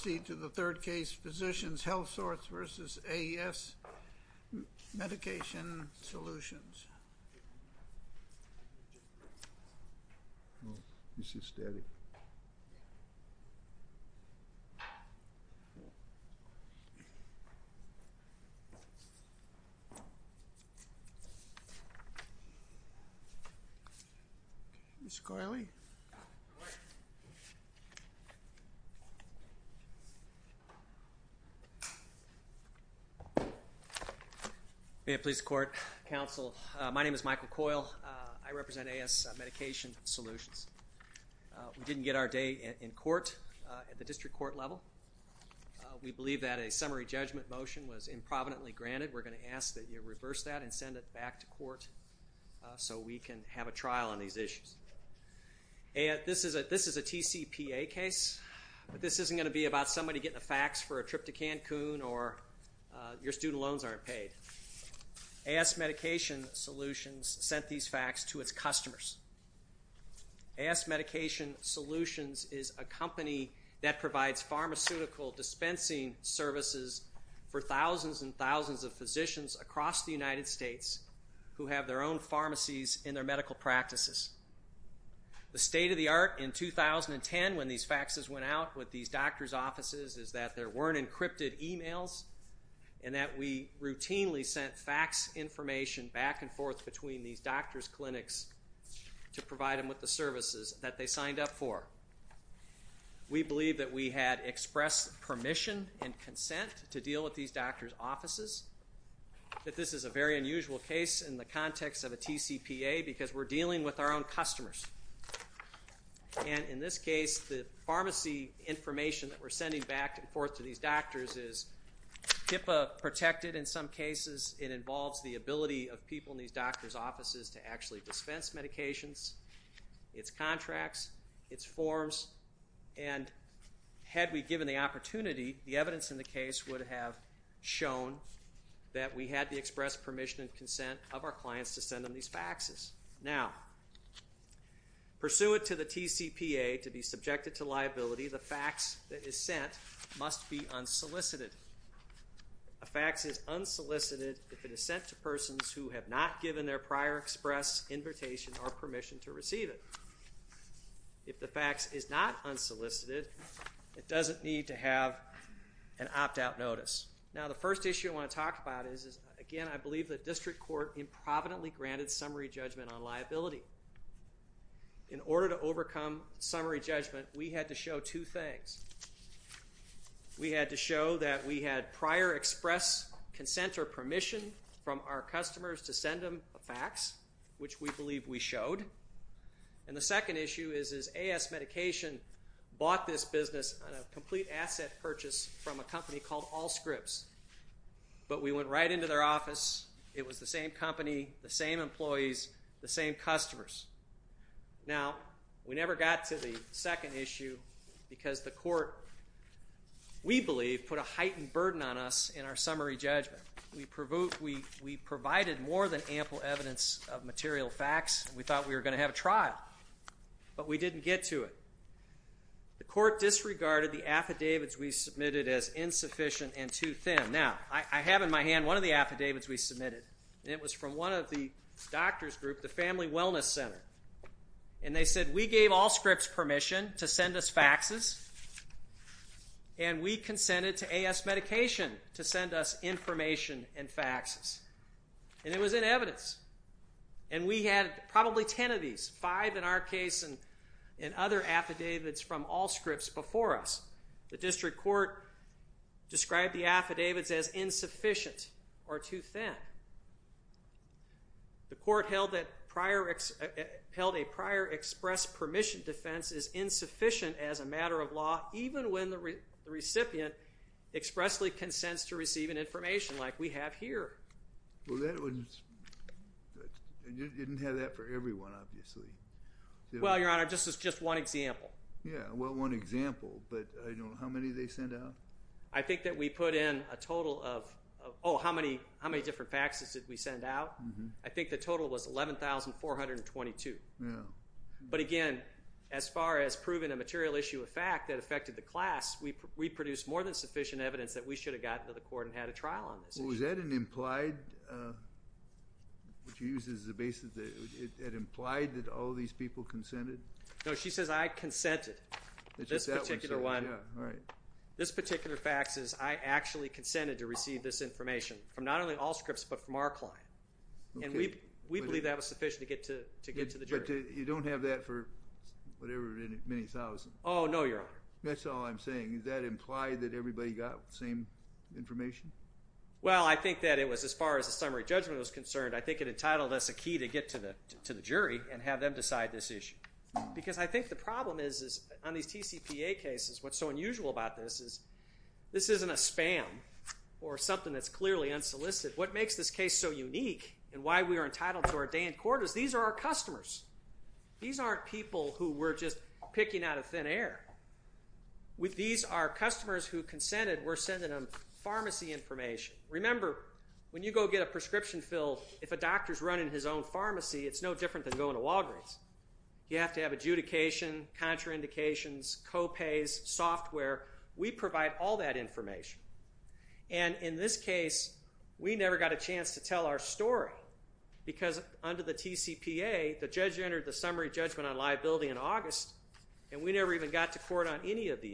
Physicians Healthsource, Inc. v. A-S Medication Solutions, LLC May it please the Court, Counsel. My name is Michael Coyle. I represent A-S Medication Solutions. We didn't get our day in court at the district court level. We believe that a summary judgment motion was improvidently granted. We're going to ask that you reverse that and send it back to court so we can have a trial on these issues. This is a TCPA case, but this isn't going to be about somebody getting a fax for a trip to Cancun or your student loans aren't paid. A-S Medication Solutions sent these fax to its customers. A-S Medication Solutions is a company that provides pharmaceutical dispensing services for thousands and thousands of physicians across the United States who have their own The state-of-the-art in 2010 when these faxes went out with these doctors' offices is that there weren't encrypted emails and that we routinely sent fax information back and forth between these doctors' clinics to provide them with the services that they signed up for. We believe that we had expressed permission and consent to deal with these doctors' offices, that this is a very unusual case in the context of a TCPA because we're dealing with our own customers. And in this case, the pharmacy information that we're sending back and forth to these doctors is TIPA-protected in some cases. It involves the ability of people in these doctors' offices to actually dispense medications, its contracts, its forms, and had we given the opportunity, the evidence in the case would have shown that we had to Pursuant to the TCPA to be subjected to liability, the fax that is sent must be unsolicited. A fax is unsolicited if it is sent to persons who have not given their prior express invitation or permission to receive it. If the fax is not unsolicited, it doesn't need to have an opt-out notice. Now the first issue I want to talk about is, again, I believe that district court improvidently granted summary judgment on liability. In order to overcome summary judgment, we had to show two things. We had to show that we had prior express consent or permission from our customers to send them a fax, which we believe we showed. And the second issue is, is AS Medication bought this business on a complete asset purchase from a company called Allscripts, but we went right into their office. It was the same company, the same employees, the same customers. Now, we never got to the second issue because the court, we believe, put a heightened burden on us in our summary judgment. We provided more than ample evidence of material fax. We thought we were going to have a trial, but we didn't get to it. The court disregarded the affidavits we submitted as insufficient and too thin. Now, I have in my hand one of the affidavits we submitted, and it was from one of the doctor's group, the Family Wellness Center. And they said, we gave Allscripts permission to send us faxes, and we consented to AS Medication to send us information and our case and other affidavits from Allscripts before us. The district court described the affidavits as insufficient or too thin. The court held that prior, held a prior express permission defense as insufficient as a matter of law, even when the recipient expressly consents to receiving information like we have here. Well, that was, you didn't have that for everyone, obviously. Well, Your Honor, this is just one example. Yeah, well, one example, but I don't know, how many did they send out? I think that we put in a total of, oh, how many different faxes did we send out? I think the total was 11,422. Yeah. But again, as far as proving a material issue of fact that affected the class, we produced more than sufficient evidence that we should have gotten to the court and had a trial on this issue. Was that an implied, what you used as a basis, it implied that all these people consented? No, she says I consented. It's just that one, sir. This particular one. Yeah, all right. This particular fax is I actually consented to receive this information from not only Allscripts, but from our client. Okay. And we believe that was sufficient to get to the jury. But you don't have that for whatever, many thousands. Oh, no, Your Honor. That's all I'm saying. Is that implied that everybody got the same information? Well, I think that it was as far as the summary judgment was concerned. I think it entitled us a key to get to the jury and have them decide this issue. Because I think the problem is on these TCPA cases, what's so unusual about this is this isn't a spam or something that's clearly unsolicited. What makes this case so unique and why we are entitled to our day in court is these are our customers. These aren't people who we're just picking out of thin air. These are customers who consented. We're sending them pharmacy information. Remember, when you go get a prescription filled, if a doctor's running his own pharmacy, it's no different than going to Walgreens. You have to have adjudication, contraindications, co-pays, software. We provide all that information. And in this case, we never got a chance to tell our story because under the TCPA, the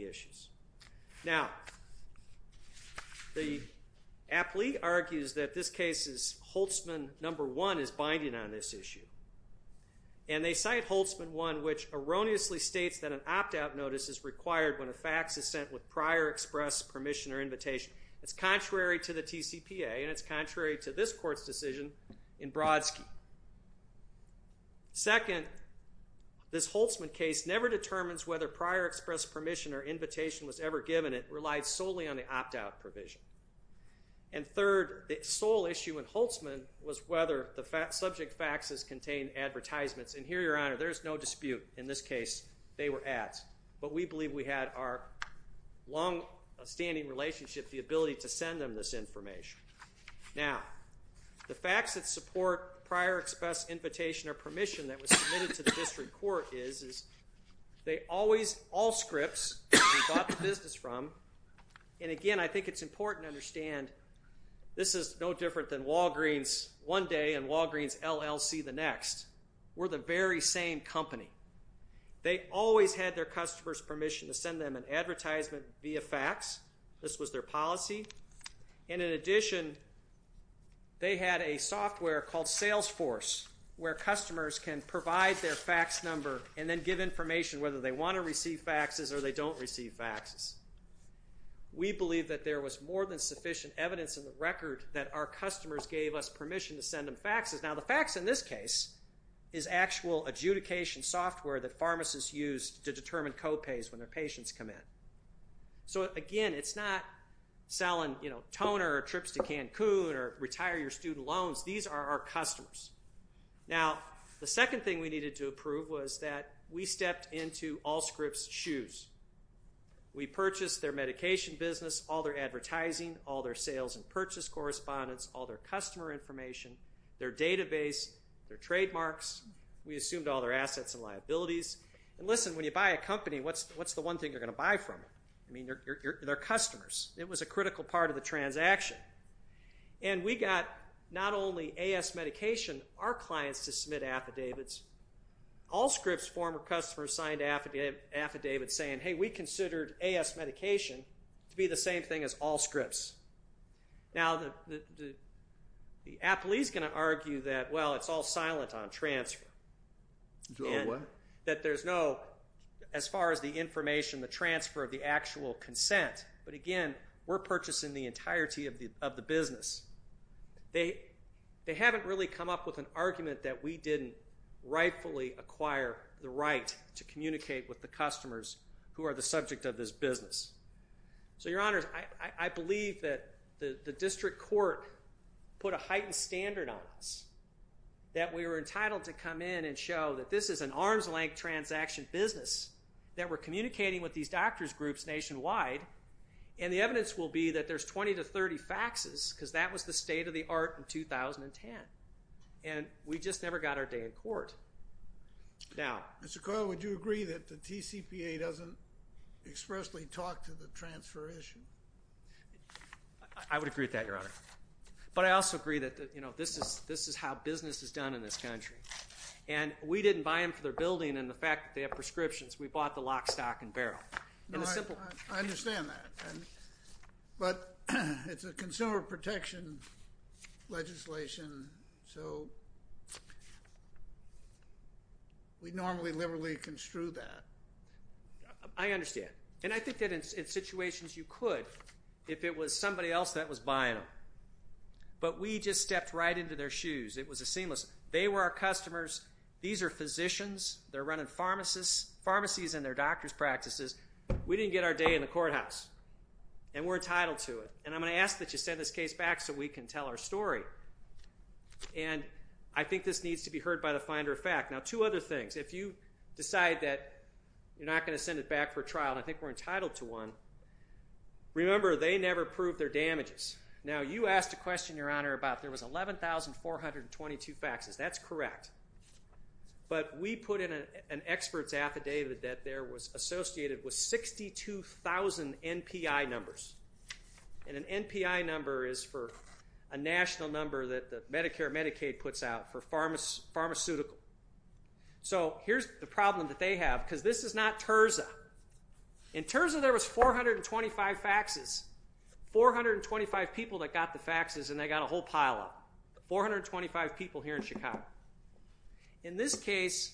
issues. Now, the applique argues that this case's Holtzman number one is binding on this issue. And they cite Holtzman one, which erroneously states that an opt-out notice is required when a fax is sent with prior express permission or invitation. It's contrary to the TCPA, and it's contrary to this court's decision in Brodsky. Second, this Holtzman case never determines whether prior express permission or invitation was ever given. It relied solely on the opt-out provision. And third, the sole issue in Holtzman was whether the subject faxes contained advertisements. And here, Your Honor, there's no dispute. In this case, they were ads. But we believe we had our long-standing relationship, the ability to send them this information. Now, the facts that support prior express invitation or permission that was submitted to the district court is they always, all scripts we bought the business from. And again, I think it's important to understand this is no different than Walgreens one day and Walgreens LLC the next. We're the very same company. They always had their customers' permission to send them an advertisement via fax. This was their policy. And in addition, they had a software called Salesforce where customers can provide their fax number and then give information whether they want to receive faxes or they don't receive faxes. We believe that there was more than sufficient evidence in the record that our customers gave us permission to send them faxes. Now, the fax in this case is actual adjudication software that pharmacists use to determine co-pays when their patients come in. So again, it's not selling toner or trips to Cancun or retire your student loans. These are our customers. Now, the second thing we needed to approve was that we stepped into all scripts' shoes. We purchased their medication business, all their advertising, all their sales and purchase correspondence, all their customer information, their database, their trademarks. We assumed all their assets and liabilities. And listen, when you buy a company, what's the one thing you're going to buy from them? I mean, they're customers. It was a critical part of the transaction. And we got not only AS Medication, our clients, to submit affidavits. All scripts' former customers signed affidavits saying, hey, we considered AS Medication to be the same thing as all scripts. Now, Apple is going to argue that, well, it's all silent on transfer. It's all what? That there's no, as far as the information, the transfer, the actual consent. But again, we're purchasing the entirety of the business. They haven't really come up with an argument that we didn't rightfully acquire the right to communicate with the customers who are the subject of this business. So, Your Honors, I believe that the district court put a heightened standard on us, that we were entitled to come in and show that this is an arm's length transaction business, that we're communicating with these doctors groups nationwide, and the evidence will be that there's 20 to 30 faxes because that was the state of the art in 2010. And we just never got our day in court. Now. Mr. Coyle, would you agree that the TCPA doesn't expressly talk to the transfer issue? I would agree with that, Your Honor. But I also agree that this is how business is done in this country. And we didn't buy them for their building and the fact that they have prescriptions. We bought the lock, stock, and barrel. I understand that. But it's a consumer protection legislation, so we normally liberally construe that. I understand. And I think that in situations you could, if it was somebody else that was buying them. But we just stepped right into their shoes. It was a seamless. They were our customers. These are physicians. They're running pharmacies and their doctor's practices. We didn't get our day in the courthouse. And we're entitled to it. And I'm going to ask that you send this case back so we can tell our story. And I think this needs to be heard by the finder of fact. Now, two other things. If you decide that you're not going to send it back for trial, and I think we're entitled to one, remember they never proved their damages. Now, you asked a question, Your Honor, about there was 11,422 faxes. That's correct. But we put in an expert's affidavit that there was associated with 62,000 NPI numbers. And an NPI number is for a national number that Medicare and Medicaid puts out for pharmaceutical. So here's the problem that they have, because this is not Terza. In Terza, there was 425 faxes, 425 people that got the faxes, and they got a whole pile-up, 425 people here in Chicago. In this case,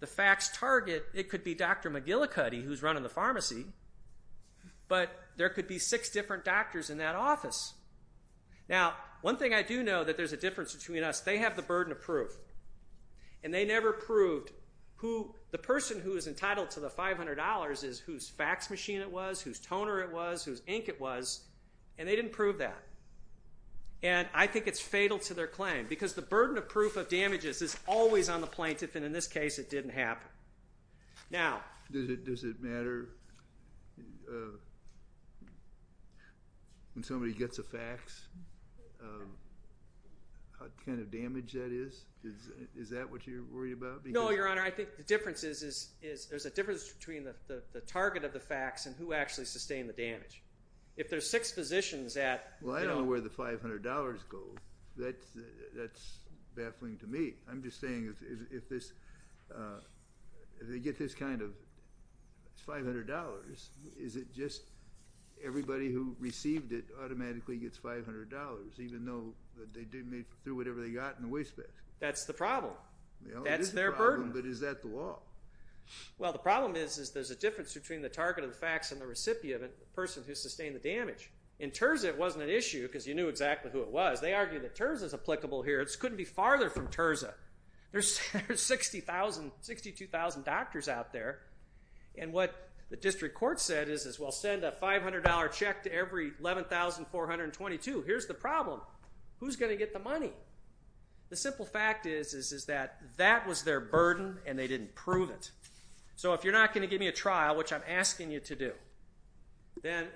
the fax target, it could be Dr. McGillicuddy, who's running the pharmacy, but there could be six different doctors in that office. Now, one thing I do know, that there's a difference between us. They have the burden of proof, and they never proved who the person who is entitled to the $500 is, whose fax machine it was, whose toner it was, whose ink it was, and they didn't prove that. And I think it's fatal to their claim, because the burden of proof of damages is always on the plaintiff, and in this case, it didn't happen. Now, does it matter when somebody gets a fax, what kind of damage that is? Is that what you're worried about? No, Your Honor. I think the difference is there's a difference between the target of the fax and who actually sustained the damage. If there's six physicians at— Well, I don't know where the $500 goes. That's baffling to me. I'm just saying if they get this kind of $500, is it just everybody who received it automatically gets $500, even though they threw whatever they got in the wastebasket? That's the problem. That's their burden. But is that the law? Well, the problem is there's a difference between the target of the fax and the recipient, the person who sustained the damage. In Terza, it wasn't an issue, because you knew exactly who it was. They argue that Terza's applicable here. It couldn't be farther from Terza. There's 62,000 doctors out there, and what the district court said is, well, send a $500 check to every 11,422. Here's the problem. Who's going to get the money? The simple fact is that that was their burden, and they didn't prove it. So if you're not going to give me a trial, which I'm asking you to do, then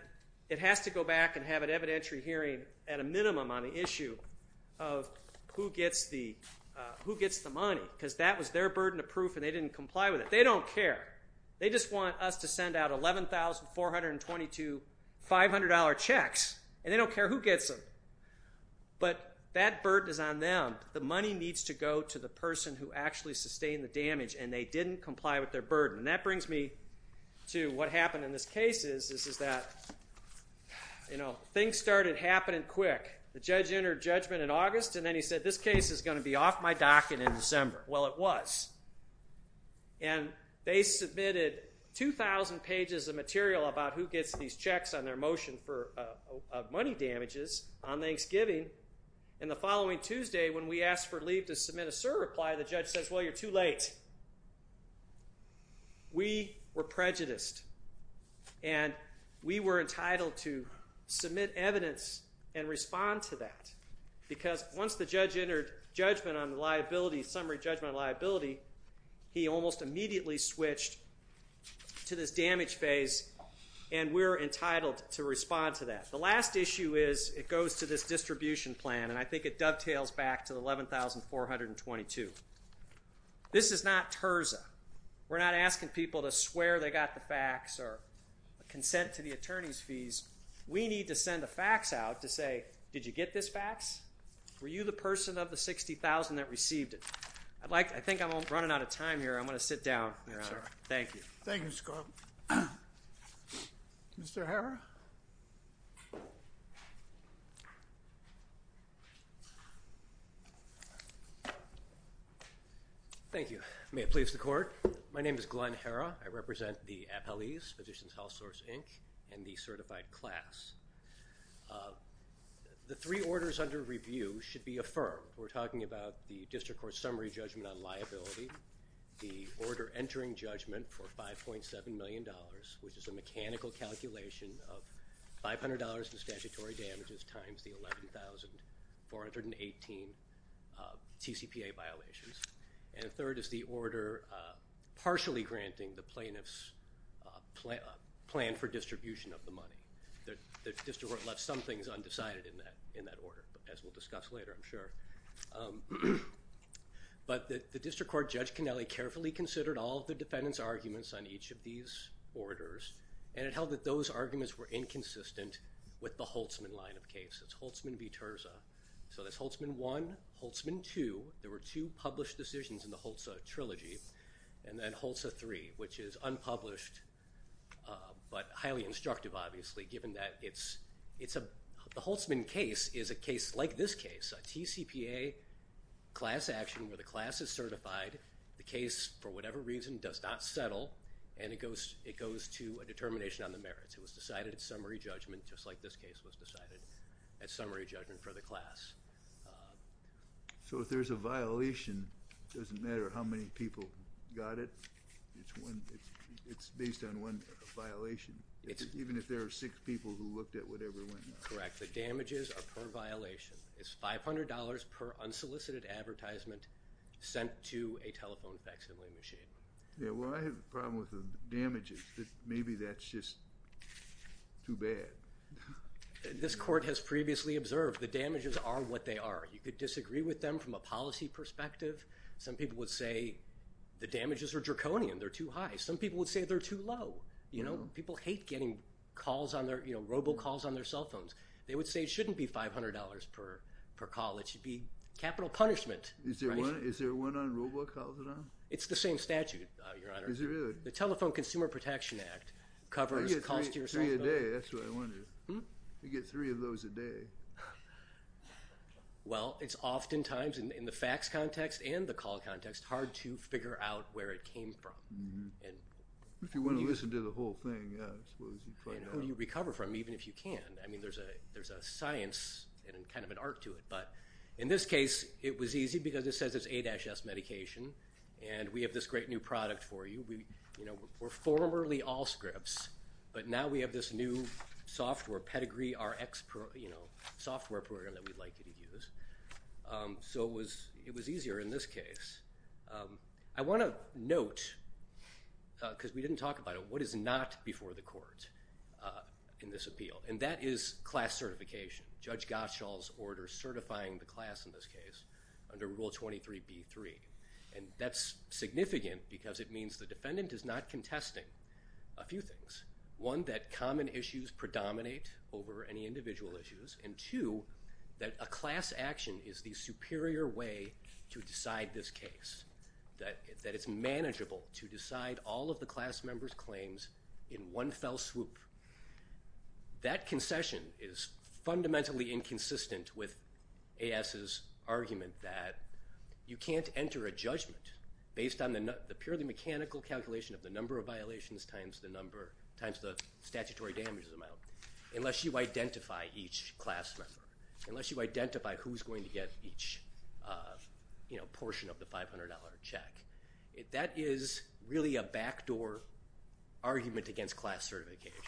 it has to go back and have an evidentiary hearing at a minimum on the issue of who gets the money, because that was their burden of proof and they didn't comply with it. They don't care. They just want us to send out 11,422 $500 checks, and they don't care who gets them. But that burden is on them. The money needs to go to the person who actually sustained the damage, and they didn't comply with their burden. And that brings me to what happened in this case is that things started happening quick. The judge entered judgment in August, and then he said, this case is going to be off my docket in December. Well, it was. And they submitted 2,000 pages of material about who gets these checks on their motion for money damages on Thanksgiving. And the following Tuesday, when we asked for leave to submit a cert reply, the judge says, well, you're too late. We were prejudiced, and we were entitled to submit evidence and respond to that, because once the judge entered judgment on the liability, summary judgment on liability, he almost immediately switched to this damage phase, and we're entitled to respond to that. The last issue is it goes to this distribution plan, and I think it dovetails back to the 11,422. This is not terza. We're not asking people to swear they got the fax or consent to the attorney's fees. We need to send a fax out to say, did you get this fax? Were you the person of the 60,000 that received it? I think I'm running out of time here. I'm going to sit down. Thank you. Thank you, Mr. Carlton. Mr. Harrah? Thank you. May it please the Court. My name is Glenn Harrah. I represent the appellees, Physicians Health Source, Inc., and the certified class. The three orders under review should be affirmed. We're talking about the district court summary judgment on liability, the order entering judgment for $5.7 million, which is a mechanical calculation of $500 in statutory damages times the 11,418 TCPA violations, and the third is the order partially granting the plaintiff's plan for distribution of the money. The district court left some things undecided in that order, as we'll discuss later, I'm sure. But the district court, Judge Canelli, carefully considered all of the defendant's arguments on each of these orders, and it held that those arguments were inconsistent with the Holtzman line of case. It's Holtzman v. Terza. So that's Holtzman 1, Holtzman 2. There were two published decisions in the Holtzman trilogy, and then Holtzman 3, which is unpublished but highly instructive, obviously, given that it's a Holtzman case is a case like this case, a TCPA class action where the class is certified, the case, for whatever reason, does not settle, and it goes to a determination on the merits. It was decided at summary judgment, just like this case was decided at summary judgment for the class. So if there's a violation, it doesn't matter how many people got it. It's based on one violation, even if there are six people who looked at whatever went wrong. Correct. The damages are per violation. It's $500 per unsolicited advertisement sent to a telephone facsimile machine. Yeah, well, I have a problem with the damages. Maybe that's just too bad. This court has previously observed the damages are what they are. You could disagree with them from a policy perspective. Some people would say the damages are draconian, they're too high. Some people would say they're too low. You know, people hate getting calls on their, you know, robocalls on their cell phones. They would say it shouldn't be $500 per call. It should be capital punishment. Is there one on robocalls at all? It's the same statute, Your Honor. Is it really? The Telephone Consumer Protection Act covers calls to your cell phone. You get three a day. That's what I wondered. You get three of those a day. Well, it's oftentimes, in the fax context and the call context, hard to figure out where it came from. If you want to listen to the whole thing, yeah, I suppose you'd find out. I mean, who do you recover from, even if you can? I mean, there's a science and kind of an art to it. But in this case, it was easy because it says it's A-S medication, and we have this great new product for you. We're formerly Allscripts, but now we have this new software, Pedigree RX, you know, software program that we'd like you to use. So it was easier in this case. I want to note, because we didn't talk about it, what is not before the court in this appeal, and that is class certification, Judge Gottschall's order certifying the class in this case under Rule 23b-3. And that's significant because it means the defendant is not contesting a few things, one, that common issues predominate over any individual issues, and two, that a class action is the superior way to decide this case, that it's manageable to decide all of the class member's claims in one fell swoop. That concession is fundamentally inconsistent with A-S's argument that you can't enter a judgment based on the purely mechanical calculation of the number of violations times the statutory damages amount unless you identify each class member, unless you identify who's going to get each, you know, portion of the $500 check. That is really a backdoor argument against class certification,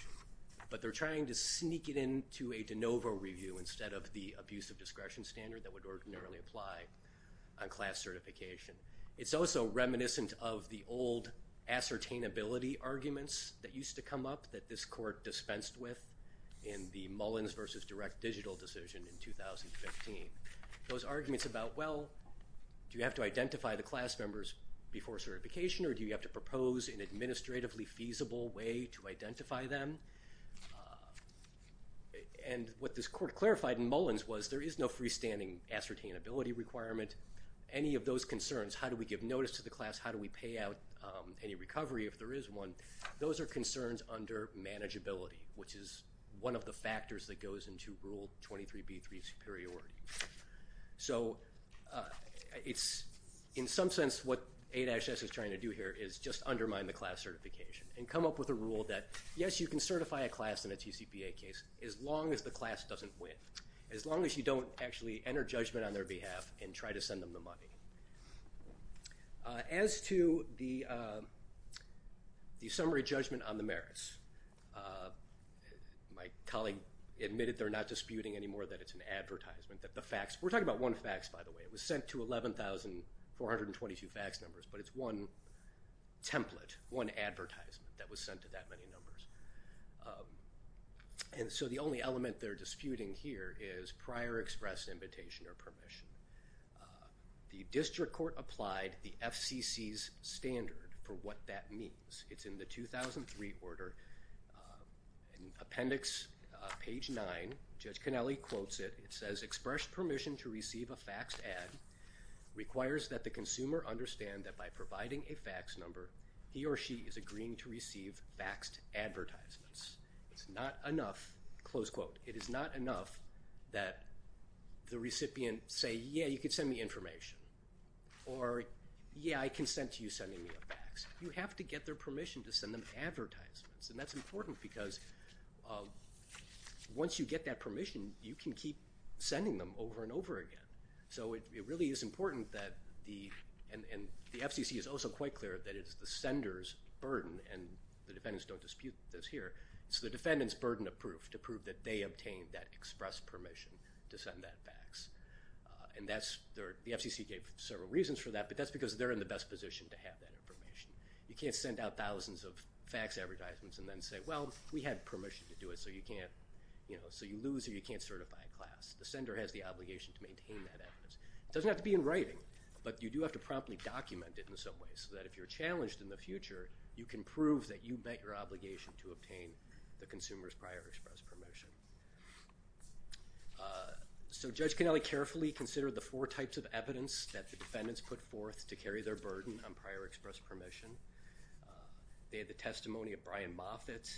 but they're trying to sneak it into a de novo review instead of the abusive discretion standard that would ordinarily apply on class certification. It's also reminiscent of the old ascertainability arguments that used to come up that this court dispensed with in the Mullins v. Direct Digital decision in 2015. Those arguments about, well, do you have to identify the class members before certification or do you have to propose an administratively feasible way to identify them? And what this court clarified in Mullins was there is no freestanding ascertainability requirement. Any of those concerns, how do we give notice to the class, how do we pay out any recovery if there is one, those are concerns under manageability, which is one of the factors that goes into Rule 23b-3 superiority. So it's in some sense what 8-S is trying to do here is just undermine the class certification and come up with a rule that, yes, you can certify a class in a TCPA case as long as the class doesn't win, as long as you don't actually enter judgment on their behalf and try to send them the money. As to the summary judgment on the merits, my colleague admitted they're not disputing anymore that it's an advertisement, that the facts, we're talking about one fax, by the way, it was sent to 11,422 fax numbers, but it's one template, one advertisement that was sent to that many numbers. And so the only element they're disputing here is prior express invitation or permission. The district court applied the FCC's standard for what that means. It's in the 2003 order. In appendix page 9, Judge Cannelli quotes it. It says, express permission to receive a faxed ad requires that the consumer understand that by providing a fax number, he or she is agreeing to receive faxed advertisements. It's not enough, close quote, it is not enough that the recipient say, yeah, you can send me information, or, yeah, I consent to you sending me a fax. You have to get their permission to send them advertisements, and that's important because once you get that permission, you can keep sending them over and over again. So it really is important that the, and the FCC is also quite clear that it is the sender's burden, and the defendants don't dispute this here, it's the defendant's burden of proof to prove that they obtained that express permission to send that fax. And that's, the FCC gave several reasons for that, but that's because they're in the best position to have that information. You can't send out thousands of fax advertisements and then say, well, we had permission to do it, so you can't, you know, so you lose or you can't certify a class. The sender has the obligation to maintain that evidence. It doesn't have to be in writing, but you do have to promptly document it in some way, so that if you're challenged in the future, you can prove that you met your obligation to obtain the consumer's prior express permission. So Judge Cannelli carefully considered the four types of evidence that the defendants put forth to carry their burden on prior express permission. They had the testimony of Brian Moffitt,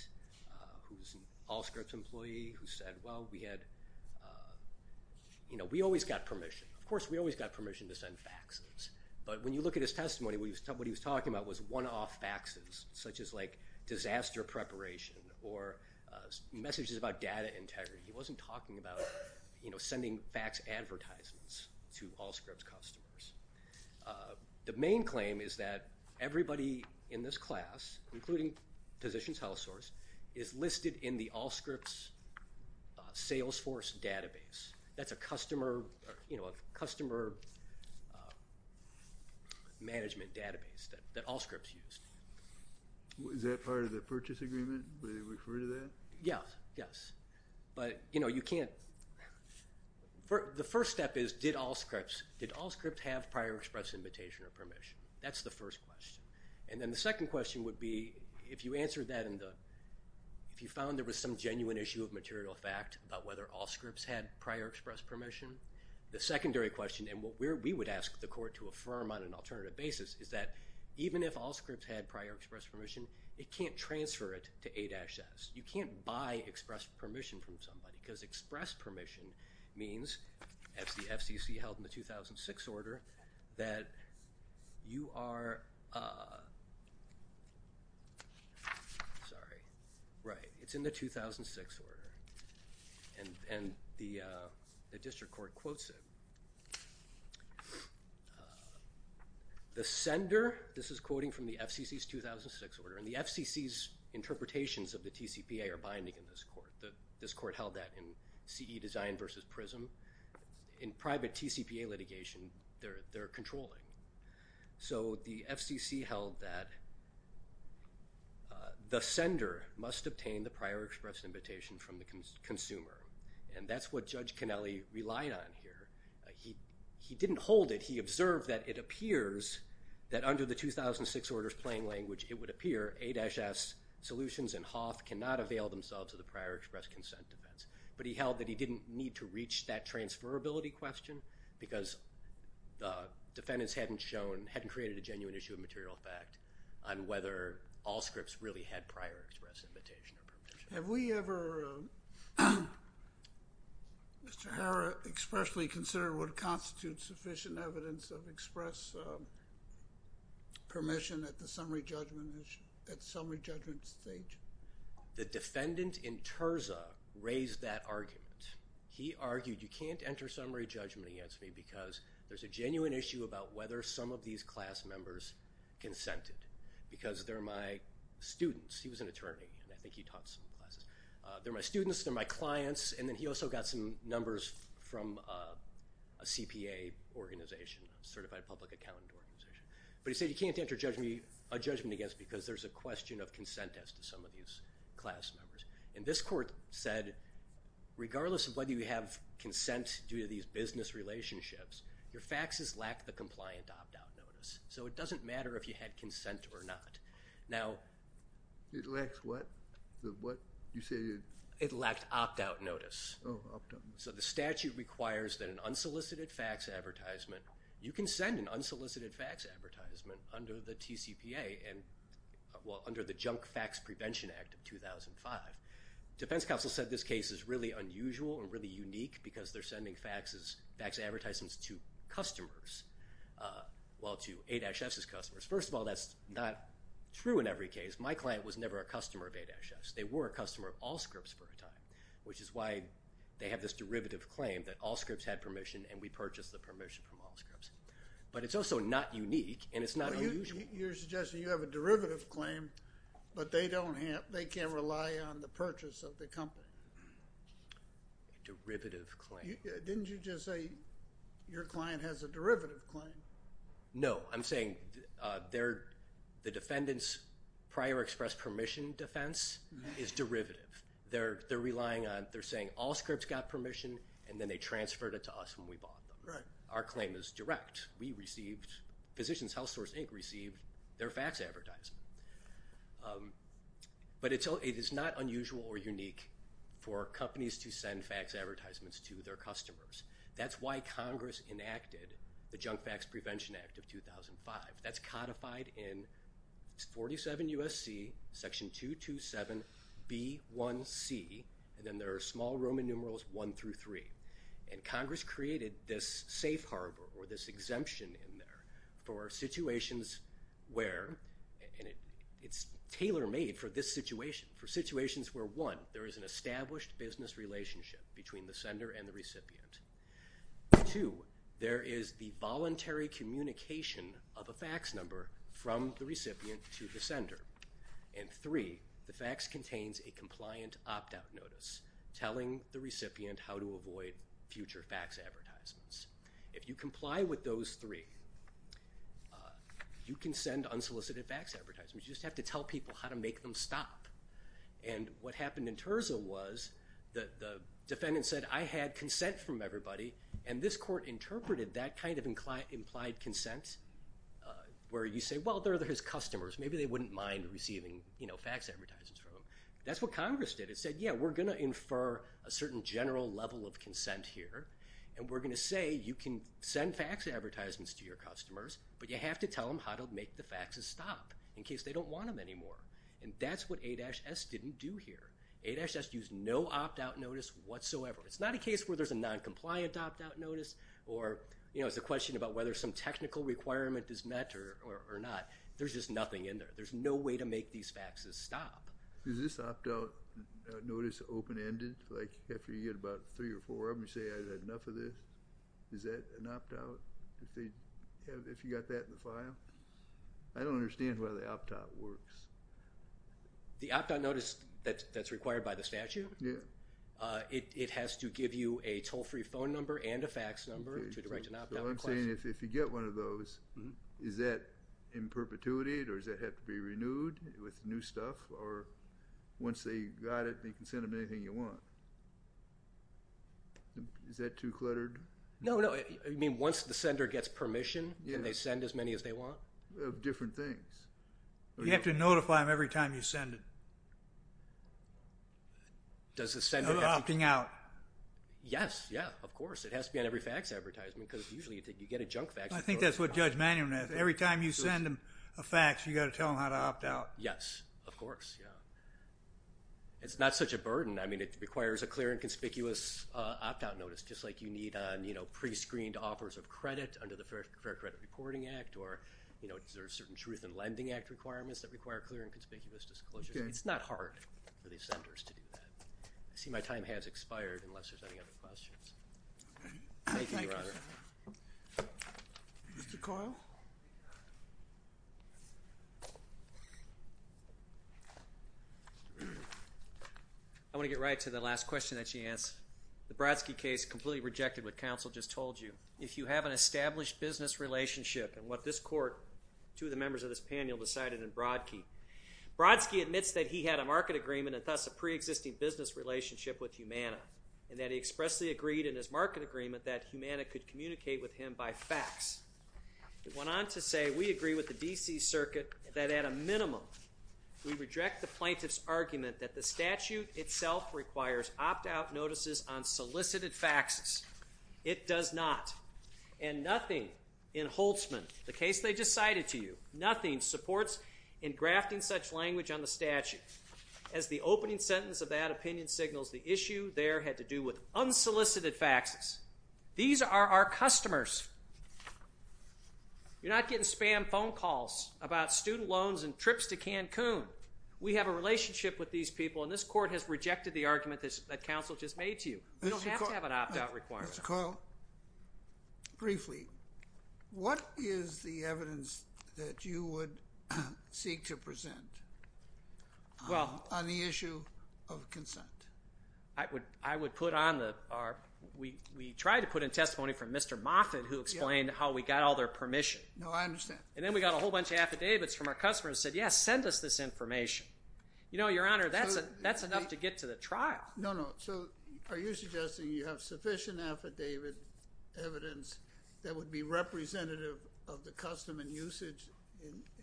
who's an Allscripts employee, who said, well, we had, you know, we always got permission, of course we always got permission to send faxes, but when you look at his testimony, what he was talking about was one-off faxes, such as, like, disaster preparation or messages about data integrity. He wasn't talking about, you know, sending fax advertisements to Allscripts customers. The main claim is that everybody in this class, including Physicians Health Source, is listed in the Allscripts Salesforce database. That's a customer, you know, a customer management database that Allscripts used. Is that part of the purchase agreement? Do they refer to that? Yes, yes. But, you know, you can't – the first step is, did Allscripts have prior express invitation or permission? That's the first question. And then the second question would be, if you answered that in the – The secondary question, and what we would ask the court to affirm on an alternative basis, is that even if Allscripts had prior express permission, it can't transfer it to A-S. You can't buy express permission from somebody, because express permission means, as the FCC held in the 2006 order, that you are – sorry, right, it's in the 2006 order. And the district court quotes it. The sender – this is quoting from the FCC's 2006 order, and the FCC's interpretations of the TCPA are binding in this court. This court held that in CE Design versus PRISM. In private TCPA litigation, they're controlling. So the FCC held that the sender must obtain the prior express invitation from the consumer, and that's what Judge Connelly relied on here. He didn't hold it. He observed that it appears that under the 2006 order's plain language, it would appear A-S solutions and HOTH cannot avail themselves of the prior express consent defense. But he held that he didn't need to reach that transferability question, because the defendants hadn't shown – hadn't created a genuine issue of material fact on whether all scripts really had prior express invitation or permission. Have we ever, Mr. Harra, expressly considered what constitutes sufficient evidence of express permission at the summary judgment stage? The defendant in Terza raised that argument. He argued you can't enter summary judgment against me because there's a genuine issue about whether some of these class members consented, because they're my students. He was an attorney, and I think he taught some classes. They're my students. They're my clients. And then he also got some numbers from a CPA organization, a certified public accountant organization. But he said you can't enter judgment against me because there's a question of consent as to some of these class members. And this court said regardless of whether you have consent due to these business relationships, your faxes lack the compliant opt-out notice. So it doesn't matter if you had consent or not. Now – It lacks what? It lacked opt-out notice. So the statute requires that an unsolicited fax advertisement – you can send an unsolicited fax advertisement under the TCPA under the Junk Fax Prevention Act of 2005. Defense counsel said this case is really unusual and really unique because they're sending fax advertisements to customers, well, to ADASHF's customers. First of all, that's not true in every case. My client was never a customer of ADASHF's. They were a customer of Allscripts for a time, which is why they have this derivative claim that Allscripts had permission and we purchased the permission from Allscripts. But it's also not unique, and it's not unusual. So you're suggesting you have a derivative claim, but they can't rely on the purchase of the company. A derivative claim. Didn't you just say your client has a derivative claim? No. I'm saying the defendant's prior express permission defense is derivative. They're relying on – they're saying Allscripts got permission, and then they transferred it to us when we bought them. Our claim is direct. Physicians HealthSource Inc. received their fax advertisement. But it is not unusual or unique for companies to send fax advertisements to their customers. That's why Congress enacted the Junk Fax Prevention Act of 2005. That's codified in 47 U.S.C., Section 227B1C, and then there are small Roman numerals 1 through 3. And Congress created this safe harbor or this exemption in there for situations where – and it's tailor-made for this situation – for situations where, one, there is an established business relationship between the sender and the recipient. Two, there is the voluntary communication of a fax number from the recipient to the sender. And three, the fax contains a compliant opt-out notice telling the recipient how to avoid future fax advertisements. If you comply with those three, you can send unsolicited fax advertisements. You just have to tell people how to make them stop. And what happened in Terza was the defendant said, I had consent from everybody, and this court interpreted that kind of implied consent where you say, well, they're his customers. Maybe they wouldn't mind receiving fax advertisements from him. That's what Congress did. It said, yeah, we're going to infer a certain general level of consent here, and we're going to say you can send fax advertisements to your customers, but you have to tell them how to make the faxes stop in case they don't want them anymore. And that's what A-S didn't do here. A-S used no opt-out notice whatsoever. It's not a case where there's a noncompliant opt-out notice or, you know, it's a question about whether some technical requirement is met or not. There's just nothing in there. There's no way to make these faxes stop. Is this opt-out notice open-ended? Like, after you get about three or four of them, you say, I've had enough of this. Is that an opt-out if you got that in the file? I don't understand why the opt-out works. The opt-out notice that's required by the statute? Yeah. It has to give you a toll-free phone number and a fax number to direct an opt-out request. So I'm saying if you get one of those, is that in perpetuity or does that have to be renewed with new stuff? Or once they got it, you can send them anything you want. Is that too cluttered? No, no. I mean, once the sender gets permission, can they send as many as they want? Different things. You have to notify them every time you send it. Does the sender have to? No opting out. Yes, yeah, of course. It has to be on every fax advertisement because usually you get a junk fax. I think that's what Judge Manum has. Every time you send them a fax, you've got to tell them how to opt out. Yes, of course, yeah. It's not such a burden. I mean, it requires a clear and conspicuous opt-out notice, just like you need on pre-screened offers of credit under the Fair Credit Reporting Act or there are certain Truth in Lending Act requirements that require clear and conspicuous disclosures. It's not hard for these senders to do that. I see my time has expired unless there's any other questions. Thank you, Your Honor. Mr. Coyle? I want to get right to the last question that she asked. The Brodsky case completely rejected what counsel just told you. If you have an established business relationship, and what this court, two of the members of this panel decided in Brodsky, Brodsky admits that he had a market agreement and thus a pre-existing business relationship with Humana and that he expressly agreed in his market agreement that Humana could communicate with him by fax. He went on to say, we agree with the D.C. Circuit that at a minimum we reject the plaintiff's argument that the statute itself requires opt-out notices on solicited faxes. It does not. And nothing in Holtzman, the case they just cited to you, nothing supports engrafting such language on the statute. As the opening sentence of that opinion signals, the issue there had to do with unsolicited faxes. These are our customers. You're not getting spam phone calls about student loans and trips to Cancun. We have a relationship with these people, and this court has rejected the argument that counsel just made to you. We don't have to have an opt-out requirement. Mr. Coyle, briefly, what is the evidence that you would seek to present on the issue of consent? We tried to put in testimony from Mr. Moffitt, who explained how we got all their permission. No, I understand. And then we got a whole bunch of affidavits from our customers that said, yes, send us this information. You know, Your Honor, that's enough to get to the trial. No, no. So are you suggesting you have sufficient affidavit evidence that would be representative of the custom and usage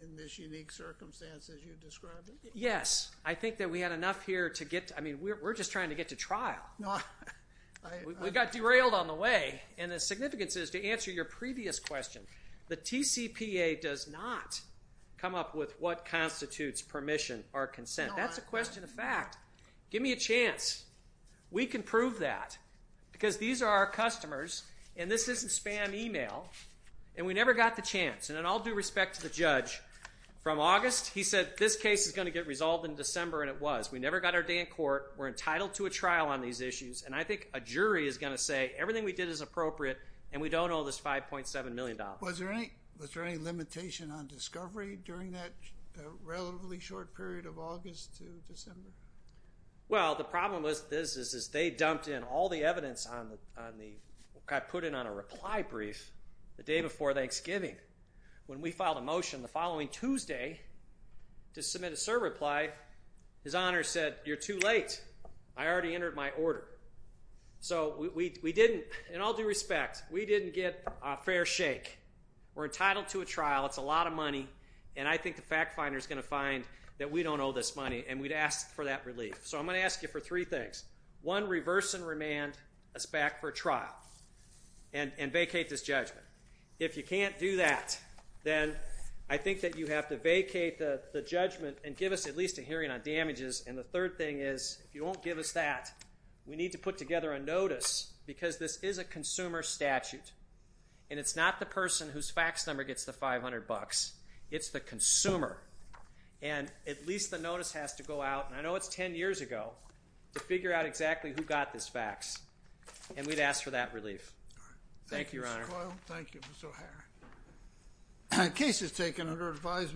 in this unique circumstance as you described it? Yes. I think that we had enough here to get to. I mean, we're just trying to get to trial. We got derailed on the way, and the significance is, to answer your previous question, the TCPA does not come up with what constitutes permission or consent. That's a question of fact. Give me a chance. We can prove that because these are our customers, and this isn't spam email, and we never got the chance. And in all due respect to the judge, from August he said, this case is going to get resolved in December, and it was. We never got our day in court. We're entitled to a trial on these issues, and I think a jury is going to say everything we did is appropriate and we don't owe this $5.7 million. Was there any limitation on discovery during that relatively short period of August to December? Well, the problem with this is they dumped in all the evidence on the got put in on a reply brief the day before Thanksgiving. When we filed a motion the following Tuesday to submit a cert reply, his honor said, you're too late. I already entered my order. So we didn't, in all due respect, we didn't get a fair shake. We're entitled to a trial. It's a lot of money, and I think the fact finder is going to find that we don't owe this money, and we'd ask for that relief. So I'm going to ask you for three things. One, reverse and remand us back for trial and vacate this judgment. If you can't do that, then I think that you have to vacate the judgment and give us at least a hearing on damages, and the third thing is if you won't give us that, we need to put together a notice because this is a consumer statute, and it's not the person whose fax number gets the $500. It's the consumer, and at least the notice has to go out, and I know it's ten years ago to figure out exactly who got this fax, and we'd ask for that relief. Thank you, Your Honor. Thank you, Mr. Coyle. Thank you, Mr. O'Hara. Case is taken under advisement.